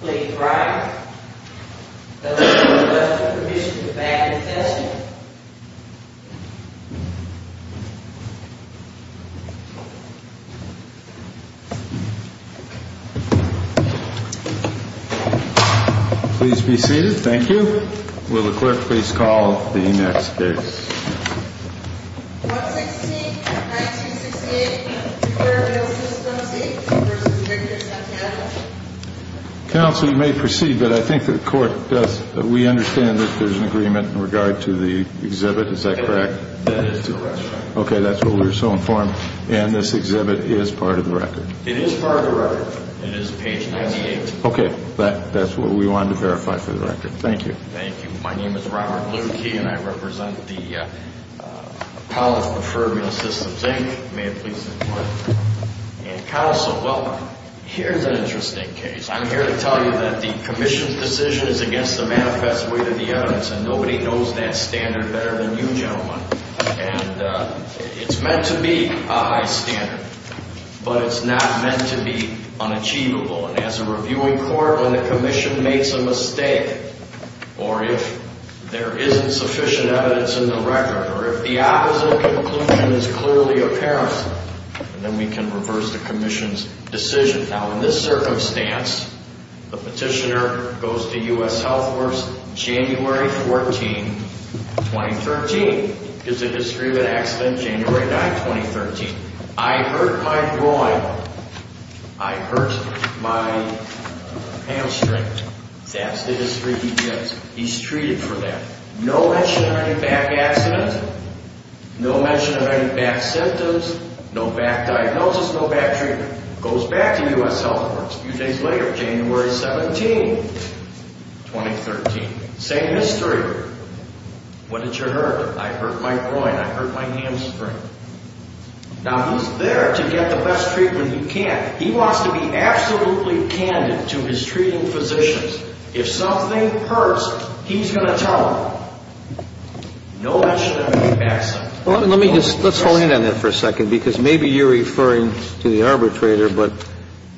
Please write the letter of permission to back the testimony. Please be seated. Thank you. Will the clerk please call the next case. 116-1968 Cleared Meal Systems, Inc. v. Victor Santana That is correct, Your Honor. It is part of the record. It is page 98. Okay. That's what we wanted to verify for the record. Thank you. Thank you. My name is Robert Lewkey, and I represent the College of Preferred Meal Systems, Inc. May it please the Court. And, Counsel, well, here's an interesting case. I'm here to tell you that the Commission's decision is against the manifest weight of the evidence, and nobody knows that standard better than you gentlemen. And it's meant to be a high standard, but it's not meant to be unachievable. And as a reviewing court, when the Commission makes a mistake, or if there isn't sufficient evidence in the record, or if the opposite conclusion is clearly apparent, then we can reverse the Commission's decision. Now, in this circumstance, the petitioner goes to U.S. Health Force January 14, 2013. Gives a history of an accident January 9, 2013. I hurt my groin. I hurt my hamstring. That's the history he gives. He's treated for that. No mention of any back accidents. No mention of any back symptoms. No back diagnosis, no back treatment. Goes back to U.S. Health Force a few days later, January 17, 2013. Same history. What did you hurt? I hurt my groin. I hurt my hamstring. Now, he's there to get the best treatment he can. He wants to be absolutely candid to his treating physicians. If something hurts, he's going to tell them. No mention of any back symptoms. Well, let me just hold you on that for a second, because maybe you're referring to the arbitrator, but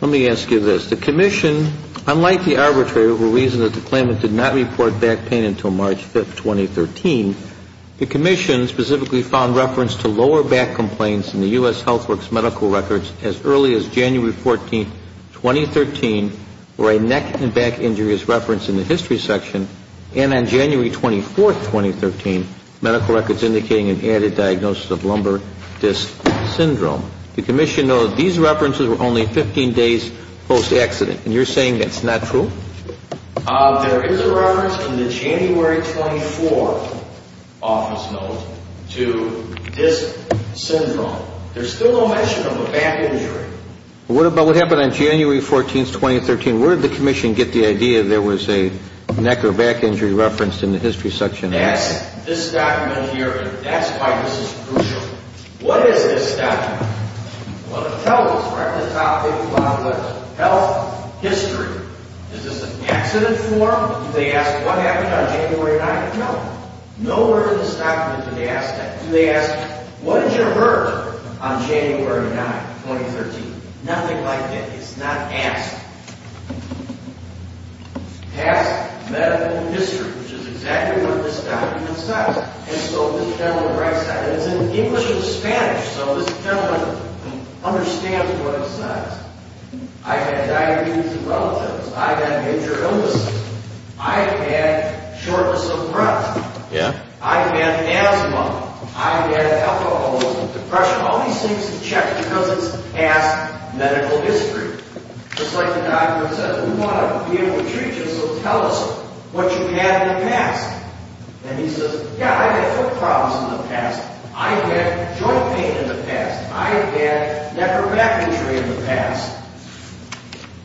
let me ask you this. The commission, unlike the arbitrator who reasoned that the claimant did not report back pain until March 5, 2013, the commission specifically found reference to lower back complaints in the U.S. Health Works medical records as early as January 14, 2013, where a neck and back injury is referenced in the history section, and on January 24, 2013, medical records indicating an added diagnosis of lumbar disc syndrome. The commission noted these references were only 15 days post-accident, and you're saying that's not true? There is a reference in the January 24 office note to disc syndrome. There's still no mention of a back injury. What about what happened on January 14, 2013? Where did the commission get the idea there was a neck or back injury referenced in the history section? That's this document here, and that's why this is crucial. What is this document? Well, the teller is right at the top of the health history. Is this an accident form? Do they ask what happened on January 9? No. Nowhere in this document do they ask that. Do they ask, what did you hurt on January 9, 2013? Nothing like that. It's not asked. Asked medical history, which is exactly what this document says. It's in English and Spanish, so this gentleman understands what it says. I've had diabetes in relatives. I've had major illnesses. I've had shortness of breath. I've had asthma. I've had alcoholism, depression. All these things are checked because it's past medical history. Just like the document says, we want to be able to treat you, so tell us what you've had in the past. And he says, yeah, I've had foot problems in the past. I've had joint pain in the past. I've had neck or back injury in the past.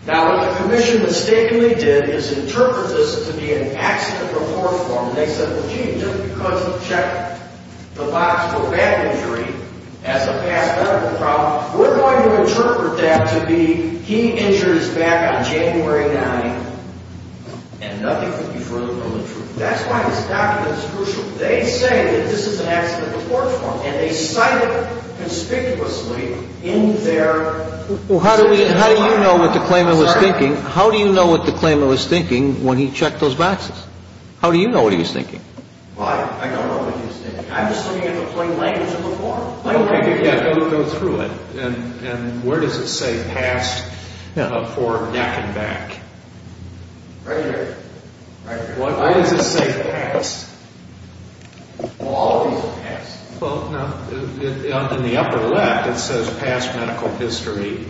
Now, what the commission mistakenly did is interpret this to be an accident report form, and they said, well, gee, just because we've checked the box for back injury as a past medical problem, we're going to interpret that to be he injured his back on January 9, and nothing could be further from the truth. That's why this document is crucial. They say that this is an accident report form, and they cite it conspicuously in their... Well, how do you know what the claimant was thinking? How do you know what the claimant was thinking when he checked those boxes? How do you know what he was thinking? Well, I don't know what he was thinking. I'm just looking at the plain language of the form. Okay, but you've got to go through it. And where does it say past for back and back? Right here. Right here. Why does it say past? Well, all of these are past. Well, no. In the upper left, it says past medical history,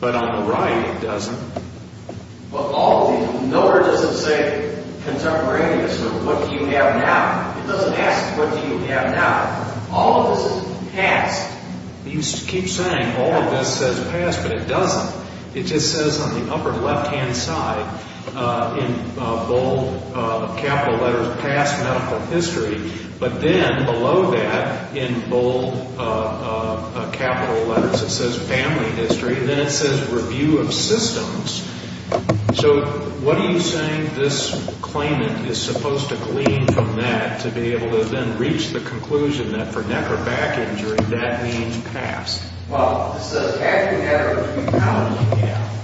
but on the right it doesn't. Well, all of these. Nowhere does it say contemporaneous or what do you have now. It doesn't ask what do you have now. All of this is past. You keep saying all of this says past, but it doesn't. It just says on the upper left-hand side in bold capital letters past medical history, but then below that in bold capital letters it says family history, and then it says review of systems. So what are you saying this claimant is supposed to glean from that to be able to then reach the conclusion that for neck or back injury that means past? Well, it says past the matter of how you look at it.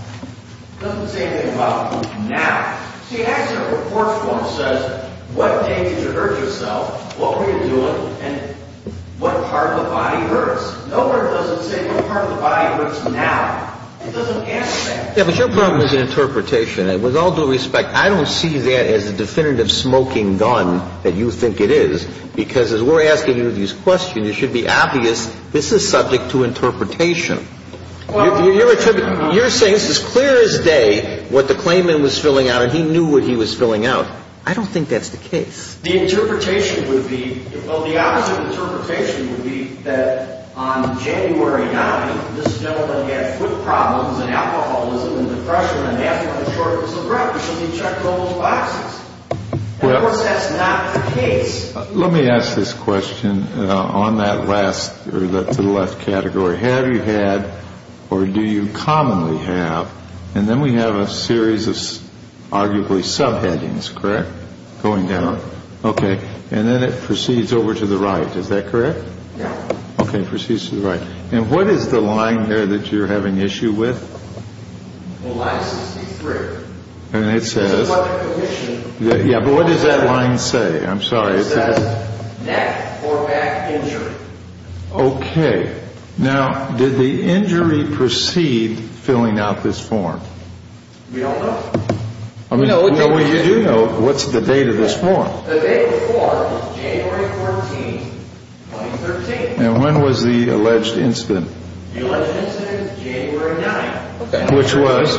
It doesn't say anything about now. See, actually the first one says what day did you hurt yourself, what were you doing, and what part of the body hurts. Nowhere does it say what part of the body hurts now. It doesn't answer that. Yeah, but your problem is an interpretation. With all due respect, I don't see that as a definitive smoking gun that you think it is, because as we're asking you these questions, it should be obvious this is subject to interpretation. You're saying it's as clear as day what the claimant was filling out, and he knew what he was filling out. I don't think that's the case. The interpretation would be, well, the opposite interpretation would be that on January 9th, this gentleman had foot problems and alcoholism and depression, and he had to have a shortness of breath, so he checked all those boxes. Of course, that's not the case. Let me ask this question on that last category. Have you had or do you commonly have, and then we have a series of arguably subheadings, correct? Going down. Okay. And then it proceeds over to the right. Is that correct? Yeah. Okay. Proceeds to the right. And what is the line there that you're having issue with? Line 63. And it says. Yeah, but what does that line say? I'm sorry. It says neck or back injury. Okay. Now, did the injury proceed filling out this form? We don't know. Well, you do know. What's the date of this form? The date of the form is January 14th, 2013. And when was the alleged incident? The alleged incident is January 9th. Which was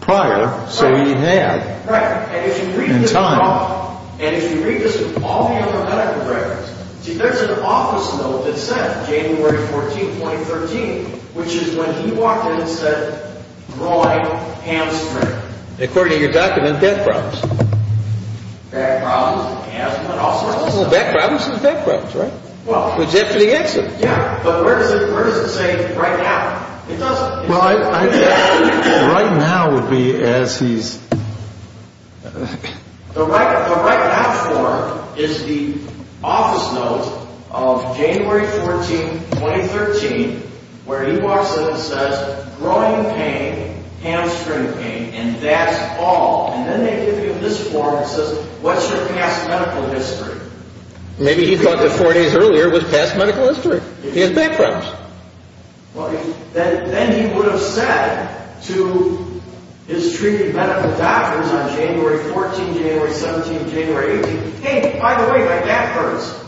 prior, so he had. Right. And if you read this. In time. And if you read this with all the other medical records, see, there's an office note that says January 14th, 2013, which is when he walked in and said groin, hamstring. According to your document, back problems. Back problems, asthma, and all sorts of stuff. Well, back problems is back problems, right? Well. Which is after the accident. Yeah. But where does it say right now? It doesn't. Right now would be as he's. The right now form is the office note of January 14th, 2013, where he walks in and says groin pain, hamstring pain, and that's all. And then they give you this form that says what's your past medical history? Maybe he thought that four days earlier was past medical history. He has back problems. Well, then he would have said to his treated medical doctors on January 14th, January 17th, January 18th, hey, by the way, my back hurts.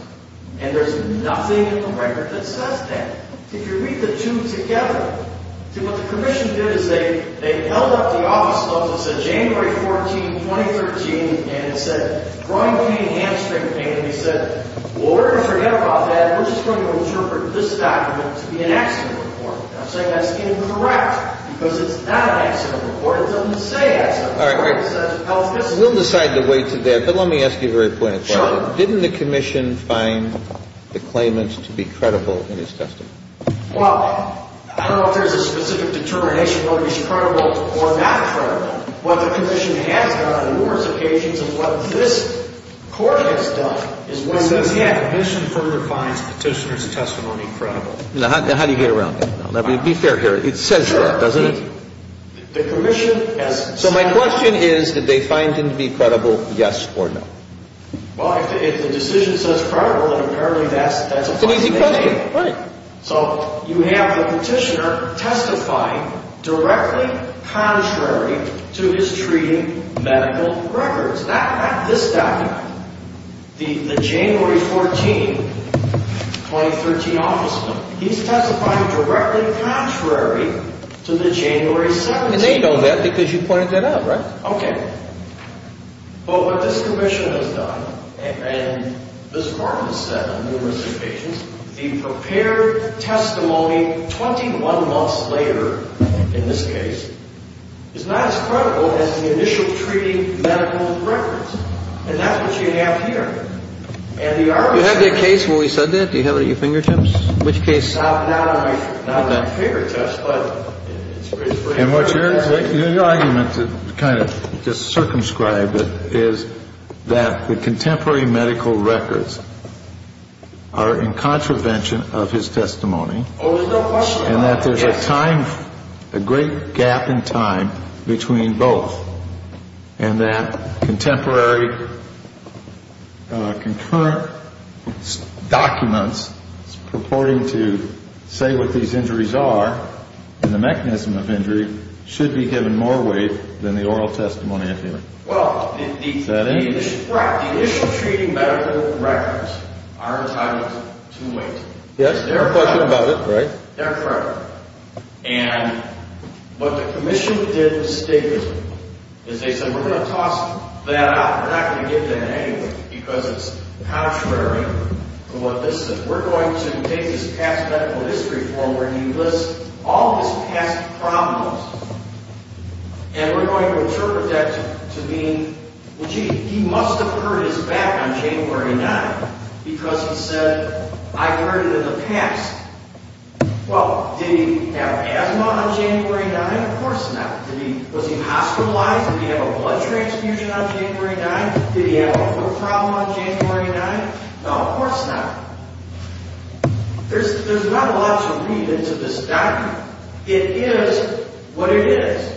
And there's nothing in the record that says that. If you read the two together. See, what the commission did is they held up the office notes that said January 14th, 2013, and it said groin pain, hamstring pain, and he said, well, we're going to forget about that. We're just going to interpret this document to be an accident report. I'm saying that's incorrect because it's not an accident report. It doesn't say accident report. It says health history. We'll decide the way to that, but let me ask you a very pointed question. Sure. Didn't the commission find the claimants to be credible in his testing? Well, I don't know if there's a specific determination whether he's credible or not credible. What the commission has done on numerous occasions and what this court has done is when. The commission further finds petitioner's testimony credible. Now, how do you get around that? Be fair here. It says that, doesn't it? Sure. The commission has. So my question is did they find him to be credible, yes or no? Well, if the decision says credible, then apparently that's a fine thing to do. It's an easy question. Right. So you have the petitioner testifying directly contrary to his treating medical records. This document, the January 14, 2013 office note, he's testifying directly contrary to the January 17th. And they know that because you pointed that out, right? Okay. But what this commission has done and this department has said on numerous occasions, the prepared testimony 21 months later in this case is not as credible as the initial treating medical records. And that's what you have here. Do you have the case where we said that? Do you have it at your fingertips? Which case? Not the prepared test, but it's pretty clear. And what your argument to kind of just circumscribe it is that the contemporary medical records are in contravention of his testimony. And that there's a time, a great gap in time between both. And that contemporary concurrent documents purporting to say what these injuries are and the mechanism of injury should be given more weight than the oral testimony up here. Is that it? Right. The initial treating medical records are entitled to weight. Yes, there are questions about it, right? That's right. And what the commission did mistakenly is they said we're going to toss that out. We're not going to give that anyway because it's contrary to what this says. We're going to take his past medical history form where he lists all of his past problems. And we're going to interpret that to mean, well, gee, he must have hurt his back on January 9th because he said, I've heard it in the past. Well, did he have asthma on January 9th? Of course not. Was he hospitalized? Did he have a blood transfusion on January 9th? Did he have a foot problem on January 9th? No, of course not. There's not a lot to read into this document. It is what it is.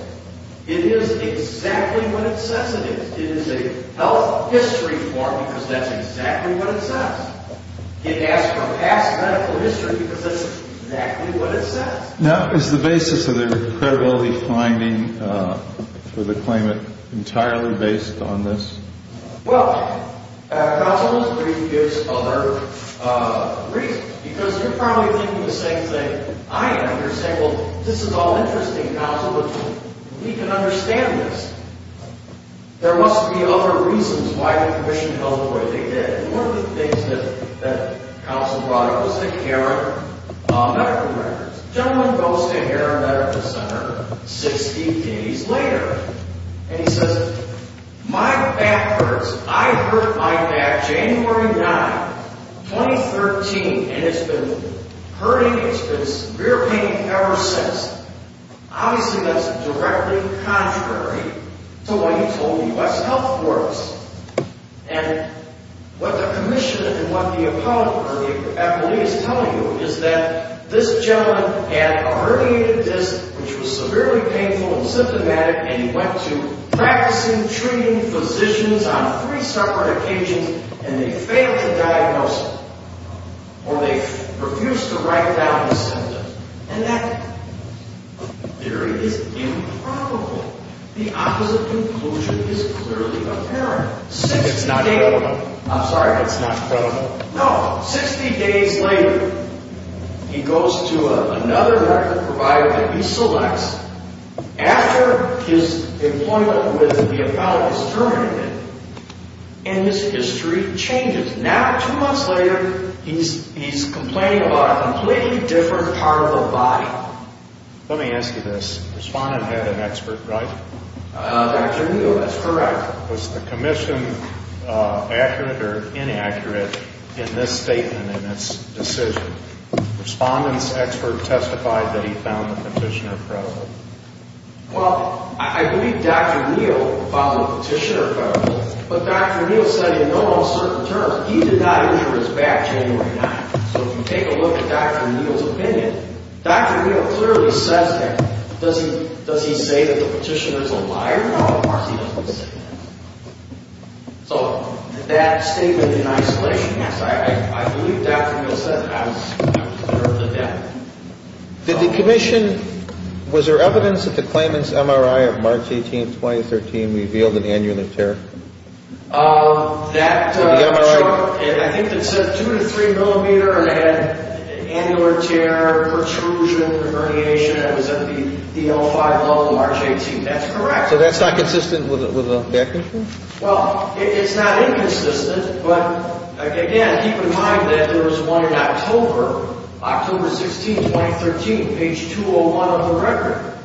It is exactly what it says it is. It is a health history form because that's exactly what it says. It asks for past medical history because that's exactly what it says. Now, is the basis of the credibility finding for the claimant entirely based on this? Well, counsel, this brief gives other reasons. Because you're probably thinking the same thing I am. You're saying, well, this is all interesting, counsel, but we can understand this. There must be other reasons why the commission held what they did. One of the things that counsel brought up was the Heron Medical Center. The gentleman goes to Heron Medical Center 60 days later, and he says, my back hurts. I hurt my back January 9th, 2013, and it's been hurting. It's been severe pain ever since. Obviously, that's directly contrary to what he told the U.S. Health Force. And what the commission and what the appellee is telling you is that this gentleman had a herniated disc, which was severely painful and symptomatic, and he went to practicing treating physicians on three separate occasions, and they failed to diagnose him, or they refused to write down the symptom. And that theory is improbable. The opposite conclusion is clearly apparent. It's not improbable. I'm sorry. It's not improbable. No. Sixty days later, he goes to another medical provider that he selects after his employment with the appellate is terminated, and his history changes. Now, two months later, he's complaining about a completely different part of the body. Let me ask you this. Respondent had an expert, right? Dr. Neal, that's correct. Was the commission accurate or inaccurate in this statement, in this decision? Respondent's expert testified that he found the petitioner credible. Well, I believe Dr. Neal found the petitioner credible, but Dr. Neal said in all certain terms he did not injure his back January 9th. So if you take a look at Dr. Neal's opinion, Dr. Neal clearly says that. Does he say that the petitioner is a liar? No, he doesn't say that. So that statement in isolation, yes, I believe Dr. Neal said that. I was clear of the fact. Did the commission, was there evidence that the claimant's MRI of March 18th, 2013 revealed an anionic tear? I think it said 2 to 3 millimeter and it had an annular tear, protrusion, herniation. It was at the L5 level of March 18th. That's correct. So that's not consistent with the back injury? Well, it's not inconsistent, but again, keep in mind that there was one in October, October 16th, 2013, page 201 of the record.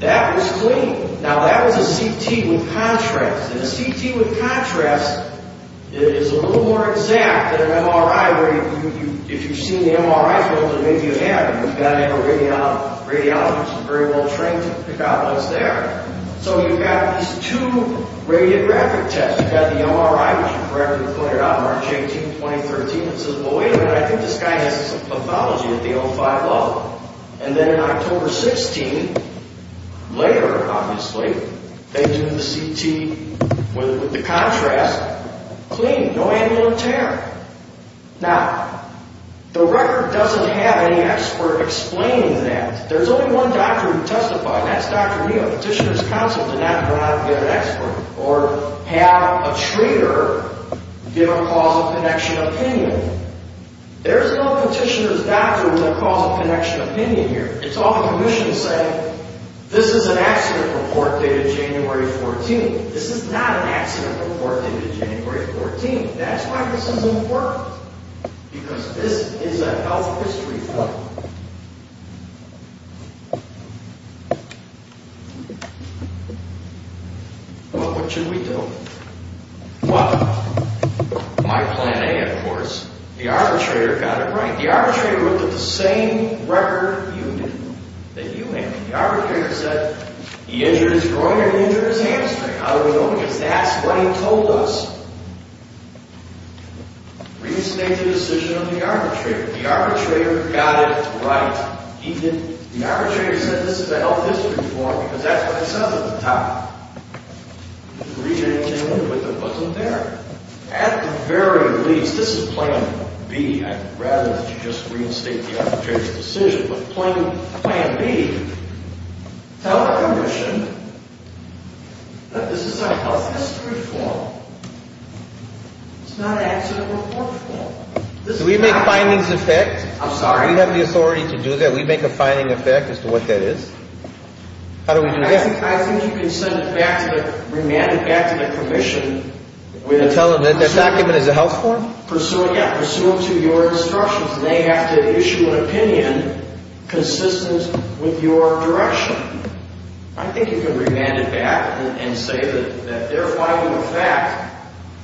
That was clean. Now that was a CT with contrast. And a CT with contrast is a little more exact than an MRI where if you've seen the MRI filter, maybe you have, but you've got to have a radiologist very well trained to pick out what's there. So you've got these two radiographic tests. You've got the MRI, which you correctly pointed out, March 18th, 2013, and it says, well, wait a minute, I think this guy has some pathology at the L5 level. And then in October 16th, later obviously, they do the CT with the contrast, clean, no annular tear. Now, the record doesn't have any expert explaining that. There's only one doctor who testified, and that's Dr. Neal. Petitioner's counsel did not go out and get an expert or have a treater give a causal connection opinion. There's no petitioner's doctor who would have caused a connection opinion here. It's all the commission saying, this is an accident report dated January 14th. This is not an accident report dated January 14th. That's why this isn't important, because this is a health history thing. Well, what should we do? Well, my plan A, of course, the arbitrator got it right. The arbitrator looked at the same record that you handed. The arbitrator said he injured his groin or he injured his hamstring. How do we know? Because that's what he told us. Restate the decision of the arbitrator. The arbitrator got it right. The arbitrator said this is a health history form, because that's what it says at the top. He agreed to it, but it wasn't there. At the very least, this is plan B. I'd rather that you just reinstate the arbitrator's decision. But plan B, tell the commission that this is a health history form. It's not an accident report form. Do we make findings of that? I'm sorry? Do we have the authority to do that? Do we make a finding of that as to what that is? How do we do that? I think you can send it back, remand it back to the commission. Tell them that this document is a health form? Yeah, pursue them to your instructions. They have to issue an opinion consistent with your direction. I think you can remand it back and say that they're finding the fact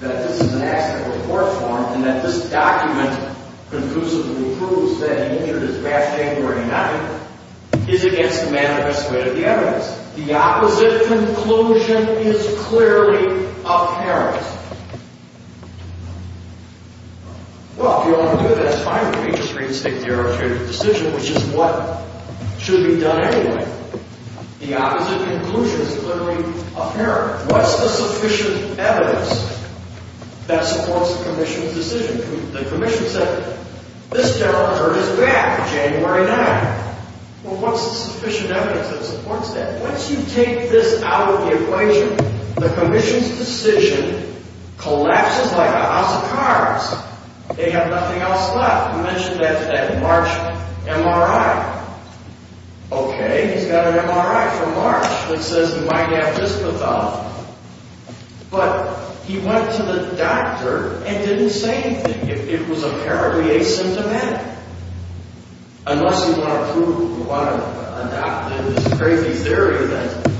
that this is an accident report form and that this document conclusively proves that he injured his left hamstring or he not injured it is against the manifest way of the evidence. The opposite conclusion is clearly apparent. Well, if you want to do that, it's fine with me. Just reinstate the arbitrator's decision, which is what should be done anyway. The opposite conclusion is clearly apparent. What's the sufficient evidence that supports the commission's decision? The commission said, this general judge is back January 9th. Well, what's the sufficient evidence that supports that? Once you take this out of the equation, the commission's decision collapses like a house of cards. They have nothing else left. You mentioned that March MRI. Okay, he's got an MRI from March that says he might have discothel. But he went to the doctor and didn't say anything. It was apparently asymptomatic. Unless you want to prove, you want to adopt this crazy theory that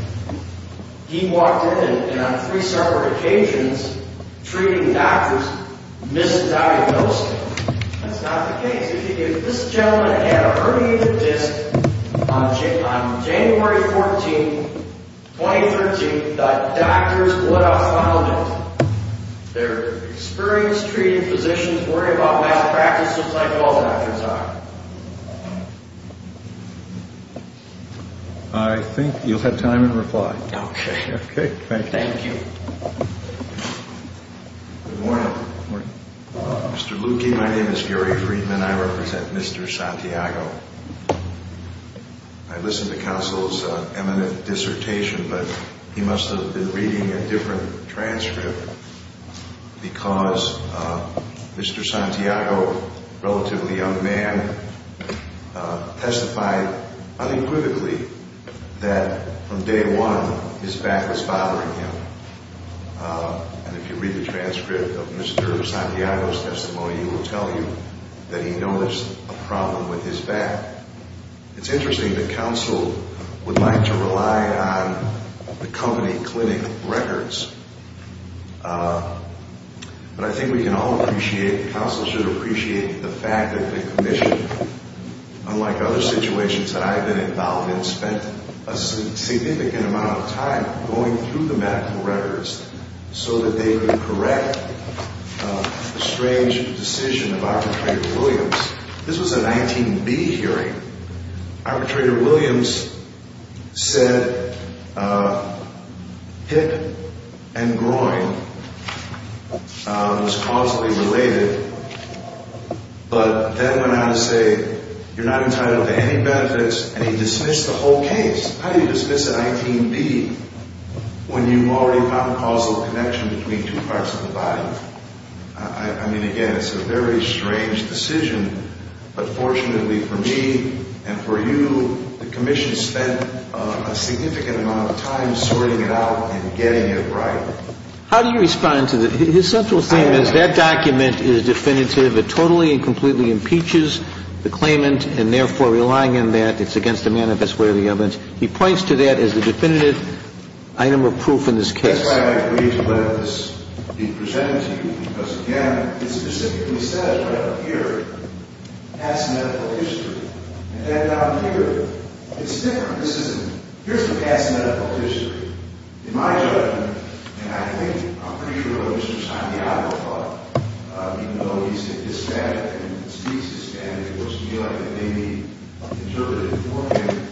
he walked in and on three separate occasions treating doctors misdiagnosed him. That's not the case. If this gentleman had a herniated disc on January 14th, 2013, the doctors would have found it. They're experienced, treated physicians, worry about malpractice just like all doctors are. I think you'll have time in reply. Okay. Okay, thank you. Thank you. Good morning. Good morning. Mr. Lukey, my name is Gary Friedman. I represent Mr. Santiago. I listened to counsel's eminent dissertation, but he must have been reading a different transcript because Mr. Santiago, a relatively young man, testified unequivocally that from day one his back was bothering him. And if you read the transcript of Mr. Santiago's testimony, he will tell you that he noticed a problem with his back. It's interesting that counsel would like to rely on the company clinic records, but I think we can all appreciate, counsel should appreciate the fact that the commission, unlike other situations that I've been involved in, spent a significant amount of time going through the medical records so that they could correct the strange decision of arbitrator Williams. This was a 19B hearing. Arbitrator Williams said hip and groin was causally related, but then went on to say you're not entitled to any benefits, and he dismissed the whole case. How do you dismiss a 19B when you've already found causal connection between two parts of the body? I mean, again, it's a very strange decision, but fortunately for me and for you, the commission spent a significant amount of time sorting it out and getting it right. How do you respond to that? His central theme is that document is definitive. It totally and completely impeaches the claimant, and therefore relying on that, it's against the manifest way of the evidence. He points to that as the definitive item of proof in this case. That's why I agreed to let this be presented to you, because, again, it specifically says right up here, past medical history. And then down here, it's different. This isn't, here's the past medical history. In my judgment, and I think I'm pretty sure it was from time to time, but even though he's had dyspnea and speaks dyspnea, it looks to me like it may be interpretive for him,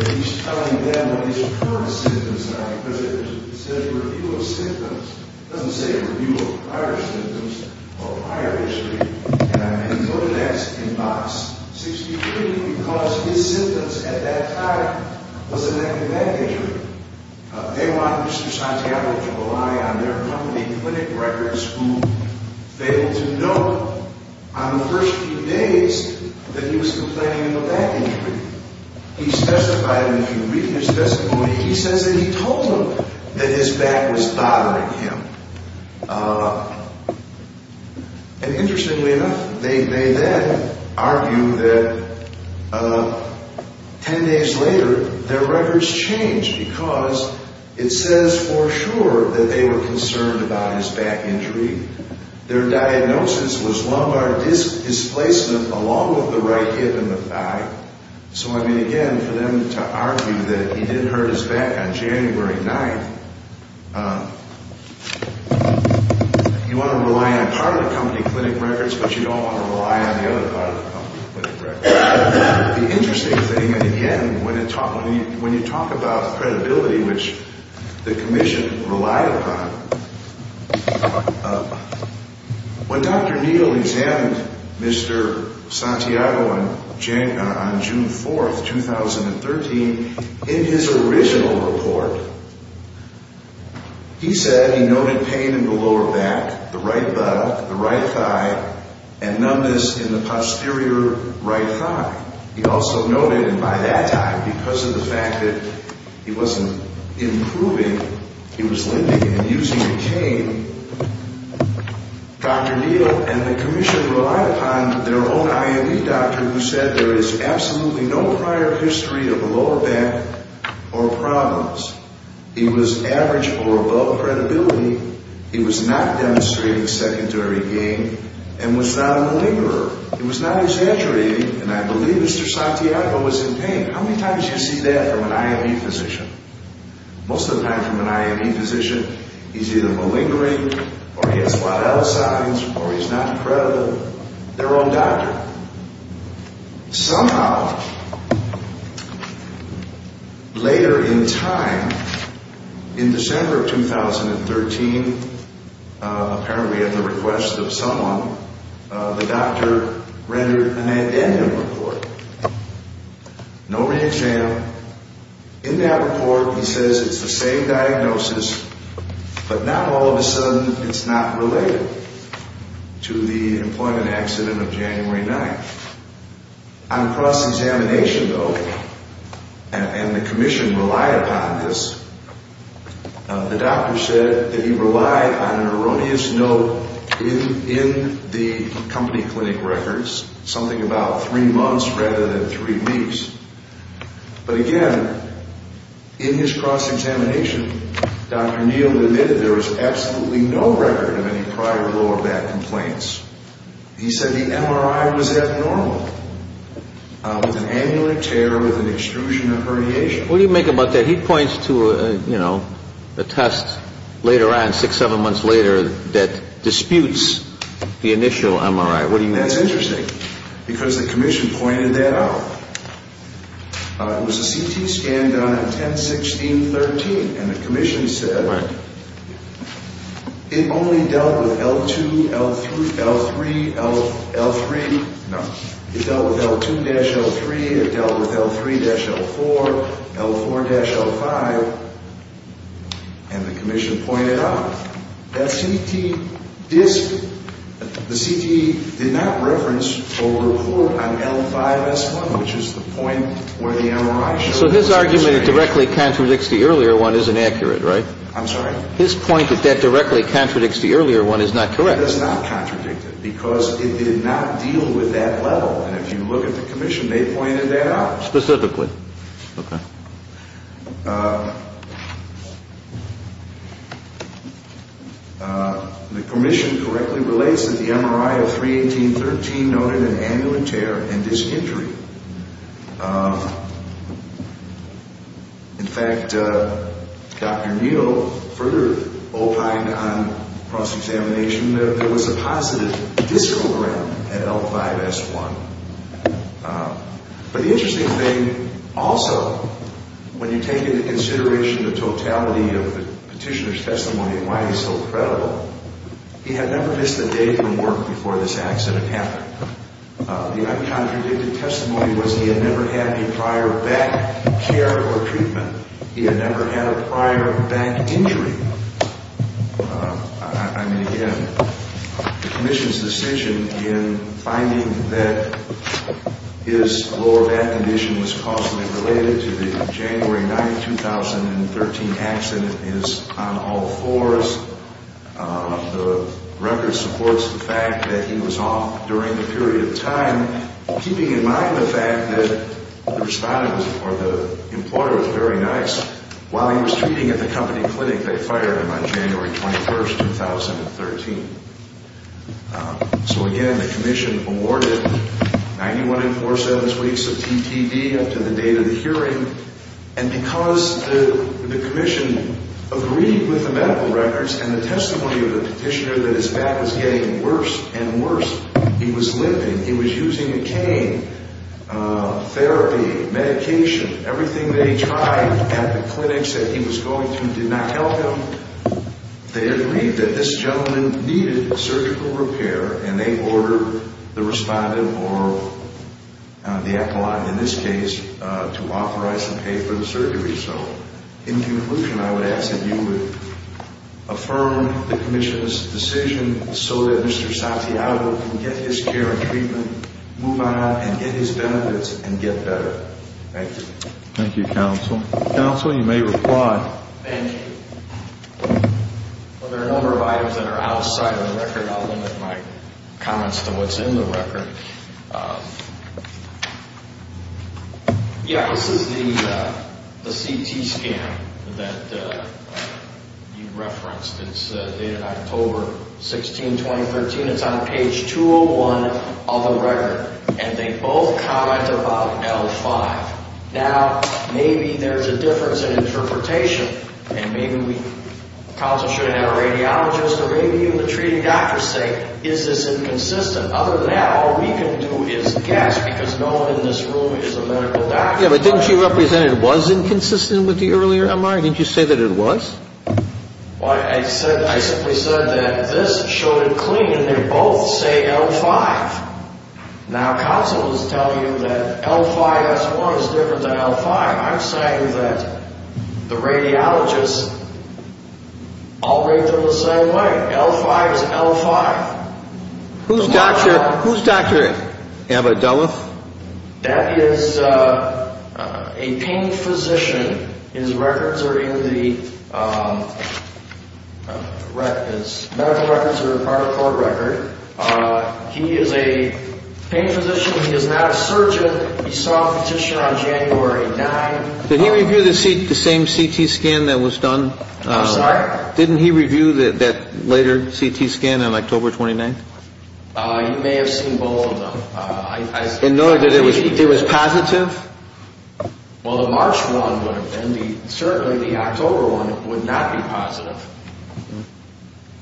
that he's telling them what his current symptoms are, because it says review of symptoms. It doesn't say review of prior symptoms or prior history, and I've been told that in box 63, because his symptoms at that time was a neck and neck injury. They wanted Mr. Santiago to rely on their company clinic records, who failed to note on the first few days that he was complaining of a back injury. He testified, and if you read his testimony, he says that he told them that his back was bothering him. And interestingly enough, they then argue that 10 days later, their records changed because it says for sure that they were concerned about his back injury. Their diagnosis was lumbar displacement along with the right hip and the thigh. So, I mean, again, for them to argue that he did hurt his back on January 9th, you want to rely on part of the company clinic records, but you don't want to rely on the other part of the company clinic records. The interesting thing, and again, when you talk about credibility, which the commission relied upon, when Dr. Neal examined Mr. Santiago on June 4th, 2013, in his original report, he said he noted pain in the lower back, the right buttock, the right thigh, and numbness in the posterior right thigh. He also noted, and by that time, because of the fact that he wasn't improving, he was limping and using a cane, Dr. Neal and the commission relied upon their own IME doctor who said there is absolutely no prior history of lower back or problems. He was average or above credibility. He was not demonstrating secondary gain. And was not a malingerer. He was not exaggerating. And I believe Mr. Santiago was in pain. How many times do you see that from an IME physician? Most of the time from an IME physician, he's either malingering or he has flat L signs or he's not creditable. Their own doctor. Somehow, later in time, in December of 2013, apparently at the request of someone, the doctor rendered an addendum report. No re-exam. In that report, he says it's the same diagnosis, but now all of a sudden it's not related to the employment accident of January 9th. On cross-examination, though, and the commission relied upon this, the doctor said that he relied on an erroneous note in the company clinic records, something about three months rather than three weeks. But again, in his cross-examination, Dr. Neal admitted there was absolutely no record of any prior lower back complaints. He said the MRI was abnormal, with an amulet tear, with an extrusion of herniation. What do you make about that? He points to a test later on, six, seven months later, that disputes the initial MRI. What do you make of that? That's interesting because the commission pointed that out. It was a CT scan done on 10-16-13, and the commission said it only dealt with L2, L3, L3. No. It dealt with L2-L3. It dealt with L3-L4, L4-L5. And the commission pointed out that CT did not reference a report on L5-S1, which is the point where the MRI showed. So his argument that it directly contradicts the earlier one is inaccurate, right? I'm sorry? His point that that directly contradicts the earlier one is not correct. That does not contradict it because it did not deal with that level. And if you look at the commission, they pointed that out. Specifically. Okay. The commission correctly relates that the MRI of 3-18-13 noted an amulet tear and disinjury. In fact, Dr. Neal further opined on cross-examination that there was a positive discogram at L5-S1. But the interesting thing also, when you take into consideration the totality of the petitioner's testimony and why he's so credible, he had never missed a day from work before this accident happened. The uncontradicted testimony was he had never had any prior back care or treatment. He had never had a prior back injury. I mean, again, the commission's decision in finding that his lower back condition was causally related to the January 9, 2013 accident is on all fours. The record supports the fact that he was off during the period of time, keeping in mind the fact that the employer was very nice. While he was treating at the company clinic, they fired him on January 21, 2013. So again, the commission awarded 91 and 4-7 weeks of TPD up to the date of the hearing. And because the commission agreed with the medical records and the testimony of the petitioner that his back was getting worse and worse, he was living. He was using a cane, therapy, medication. Everything they tried at the clinics that he was going to did not help him. They agreed that this gentleman needed surgical repair, and they ordered the respondent or the appellant in this case to authorize and pay for the surgery. So in conclusion, I would ask that you would affirm the commission's decision so that Mr. Santiago can get his care and treatment, move on and get his benefits and get better. Thank you. Thank you, counsel. Counsel, you may reply. Thank you. Well, there are a number of items that are outside of the record. I'll limit my comments to what's in the record. Yeah, this is the CT scan that you referenced. It's dated October 16, 2013. It's on page 201 of the record, and they both comment about L5. Now, maybe there's a difference in interpretation, and maybe counsel should have a radiologist or maybe even the treating doctor say, is this inconsistent? Other than that, all we can do is guess because no one in this room is a medical doctor. Yeah, but didn't you represent it was inconsistent with the earlier MRI? Didn't you say that it was? Well, I simply said that this showed it clean, and they both say L5. Now, counsel is telling you that L5 S1 is different than L5. I'm saying that the radiologists all rate them the same way. L5 is L5. Who's doctor is it? Amber Dulles? That is a pain physician. His records are in the medical records that are part of the court record. He is a pain physician. He is not a surgeon. He saw a physician on January 9. Did he review the same CT scan that was done? I'm sorry? Didn't he review that later CT scan on October 29? You may have seen both of them. In order that it was positive? Well, the March one would have been. Certainly, the October one would not be positive.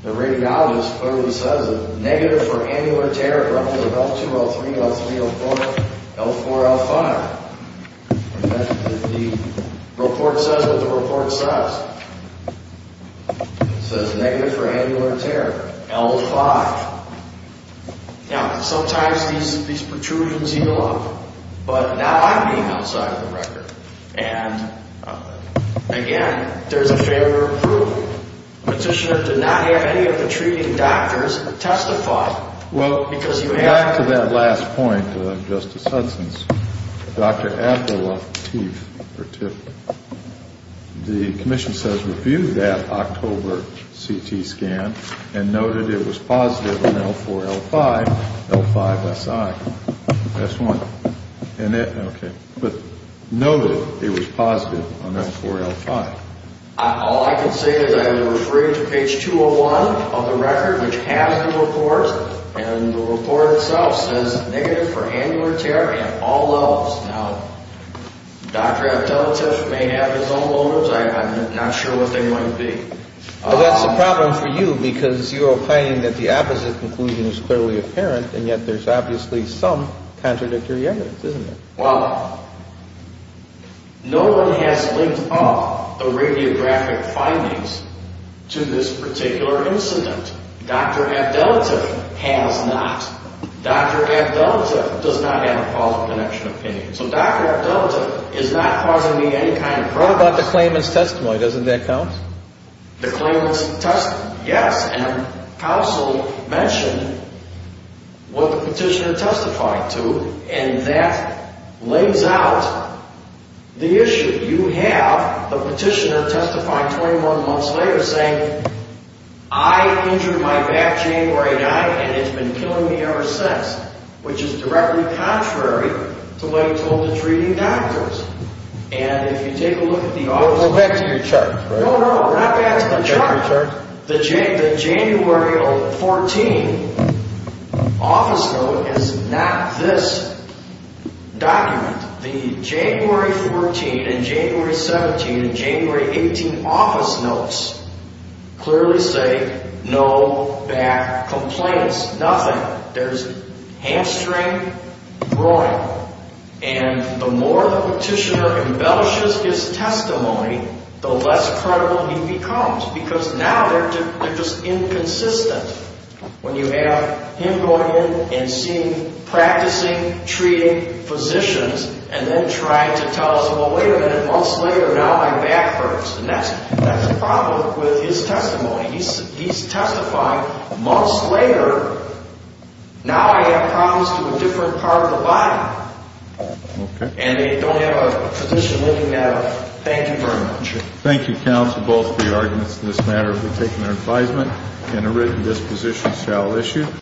The radiologist clearly says negative for annular tear, L2, L3, L3, L4, L4, L5. The report says what the report says. It says negative for annular tear, L5. Now, sometimes these protrusions heal up, but not on the outside of the record. And, again, there's a favor of approval. Petitioner did not have any of the treating doctors testify. Well, back to that last point, Justice Hudson's, Dr. Abdullah Teef, or Teef. The commission says reviewed that October CT scan and noted it was positive on L4, L5, L5, SI. That's one. Okay. But noted it was positive on L4, L5. All I can say is I am referring to page 201 of the record, which has the report, and the report itself says negative for annular tear at all levels. Now, Dr. Abdullah Teef may have his own motives. I'm not sure what they might be. Well, that's a problem for you because you're opining that the opposite conclusion is clearly apparent, and yet there's obviously some contradictory evidence, isn't there? Well, no one has linked up the radiographic findings to this particular incident. Dr. Abdullah Teef has not. Dr. Abdullah Teef does not have a causal connection opinion. So Dr. Abdullah Teef is not causing me any kind of problems. What about the claimant's testimony? Doesn't that count? The claimant's testimony? Yes. And counsel mentioned what the petitioner testified to, and that lays out the issue. You have the petitioner testify 21 months later saying, I injured my back jamb where I died and it's been killing me ever since, which is directly contrary to what he told the treating doctors. And if you take a look at the autopsy report. Well, back to your charge, right? No, no, not back to the charge. The January 14 office note is not this document. The January 14 and January 17 and January 18 office notes clearly say no back complaints, nothing. There's hamstring groin. And the more the petitioner embellishes his testimony, the less credible he becomes because now they're just inconsistent. When you have him going in and seeing, practicing, treating physicians, and then trying to tell us, well, wait a minute, months later now my back hurts. And that's the problem with his testimony. He's testifying months later, now I have problems to a different part of the body. Okay. And they don't have a physician looking at it. Thank you very much. Thank you, counsel, both of the arguments in this matter have been taken to advisement and a written disposition shall issue.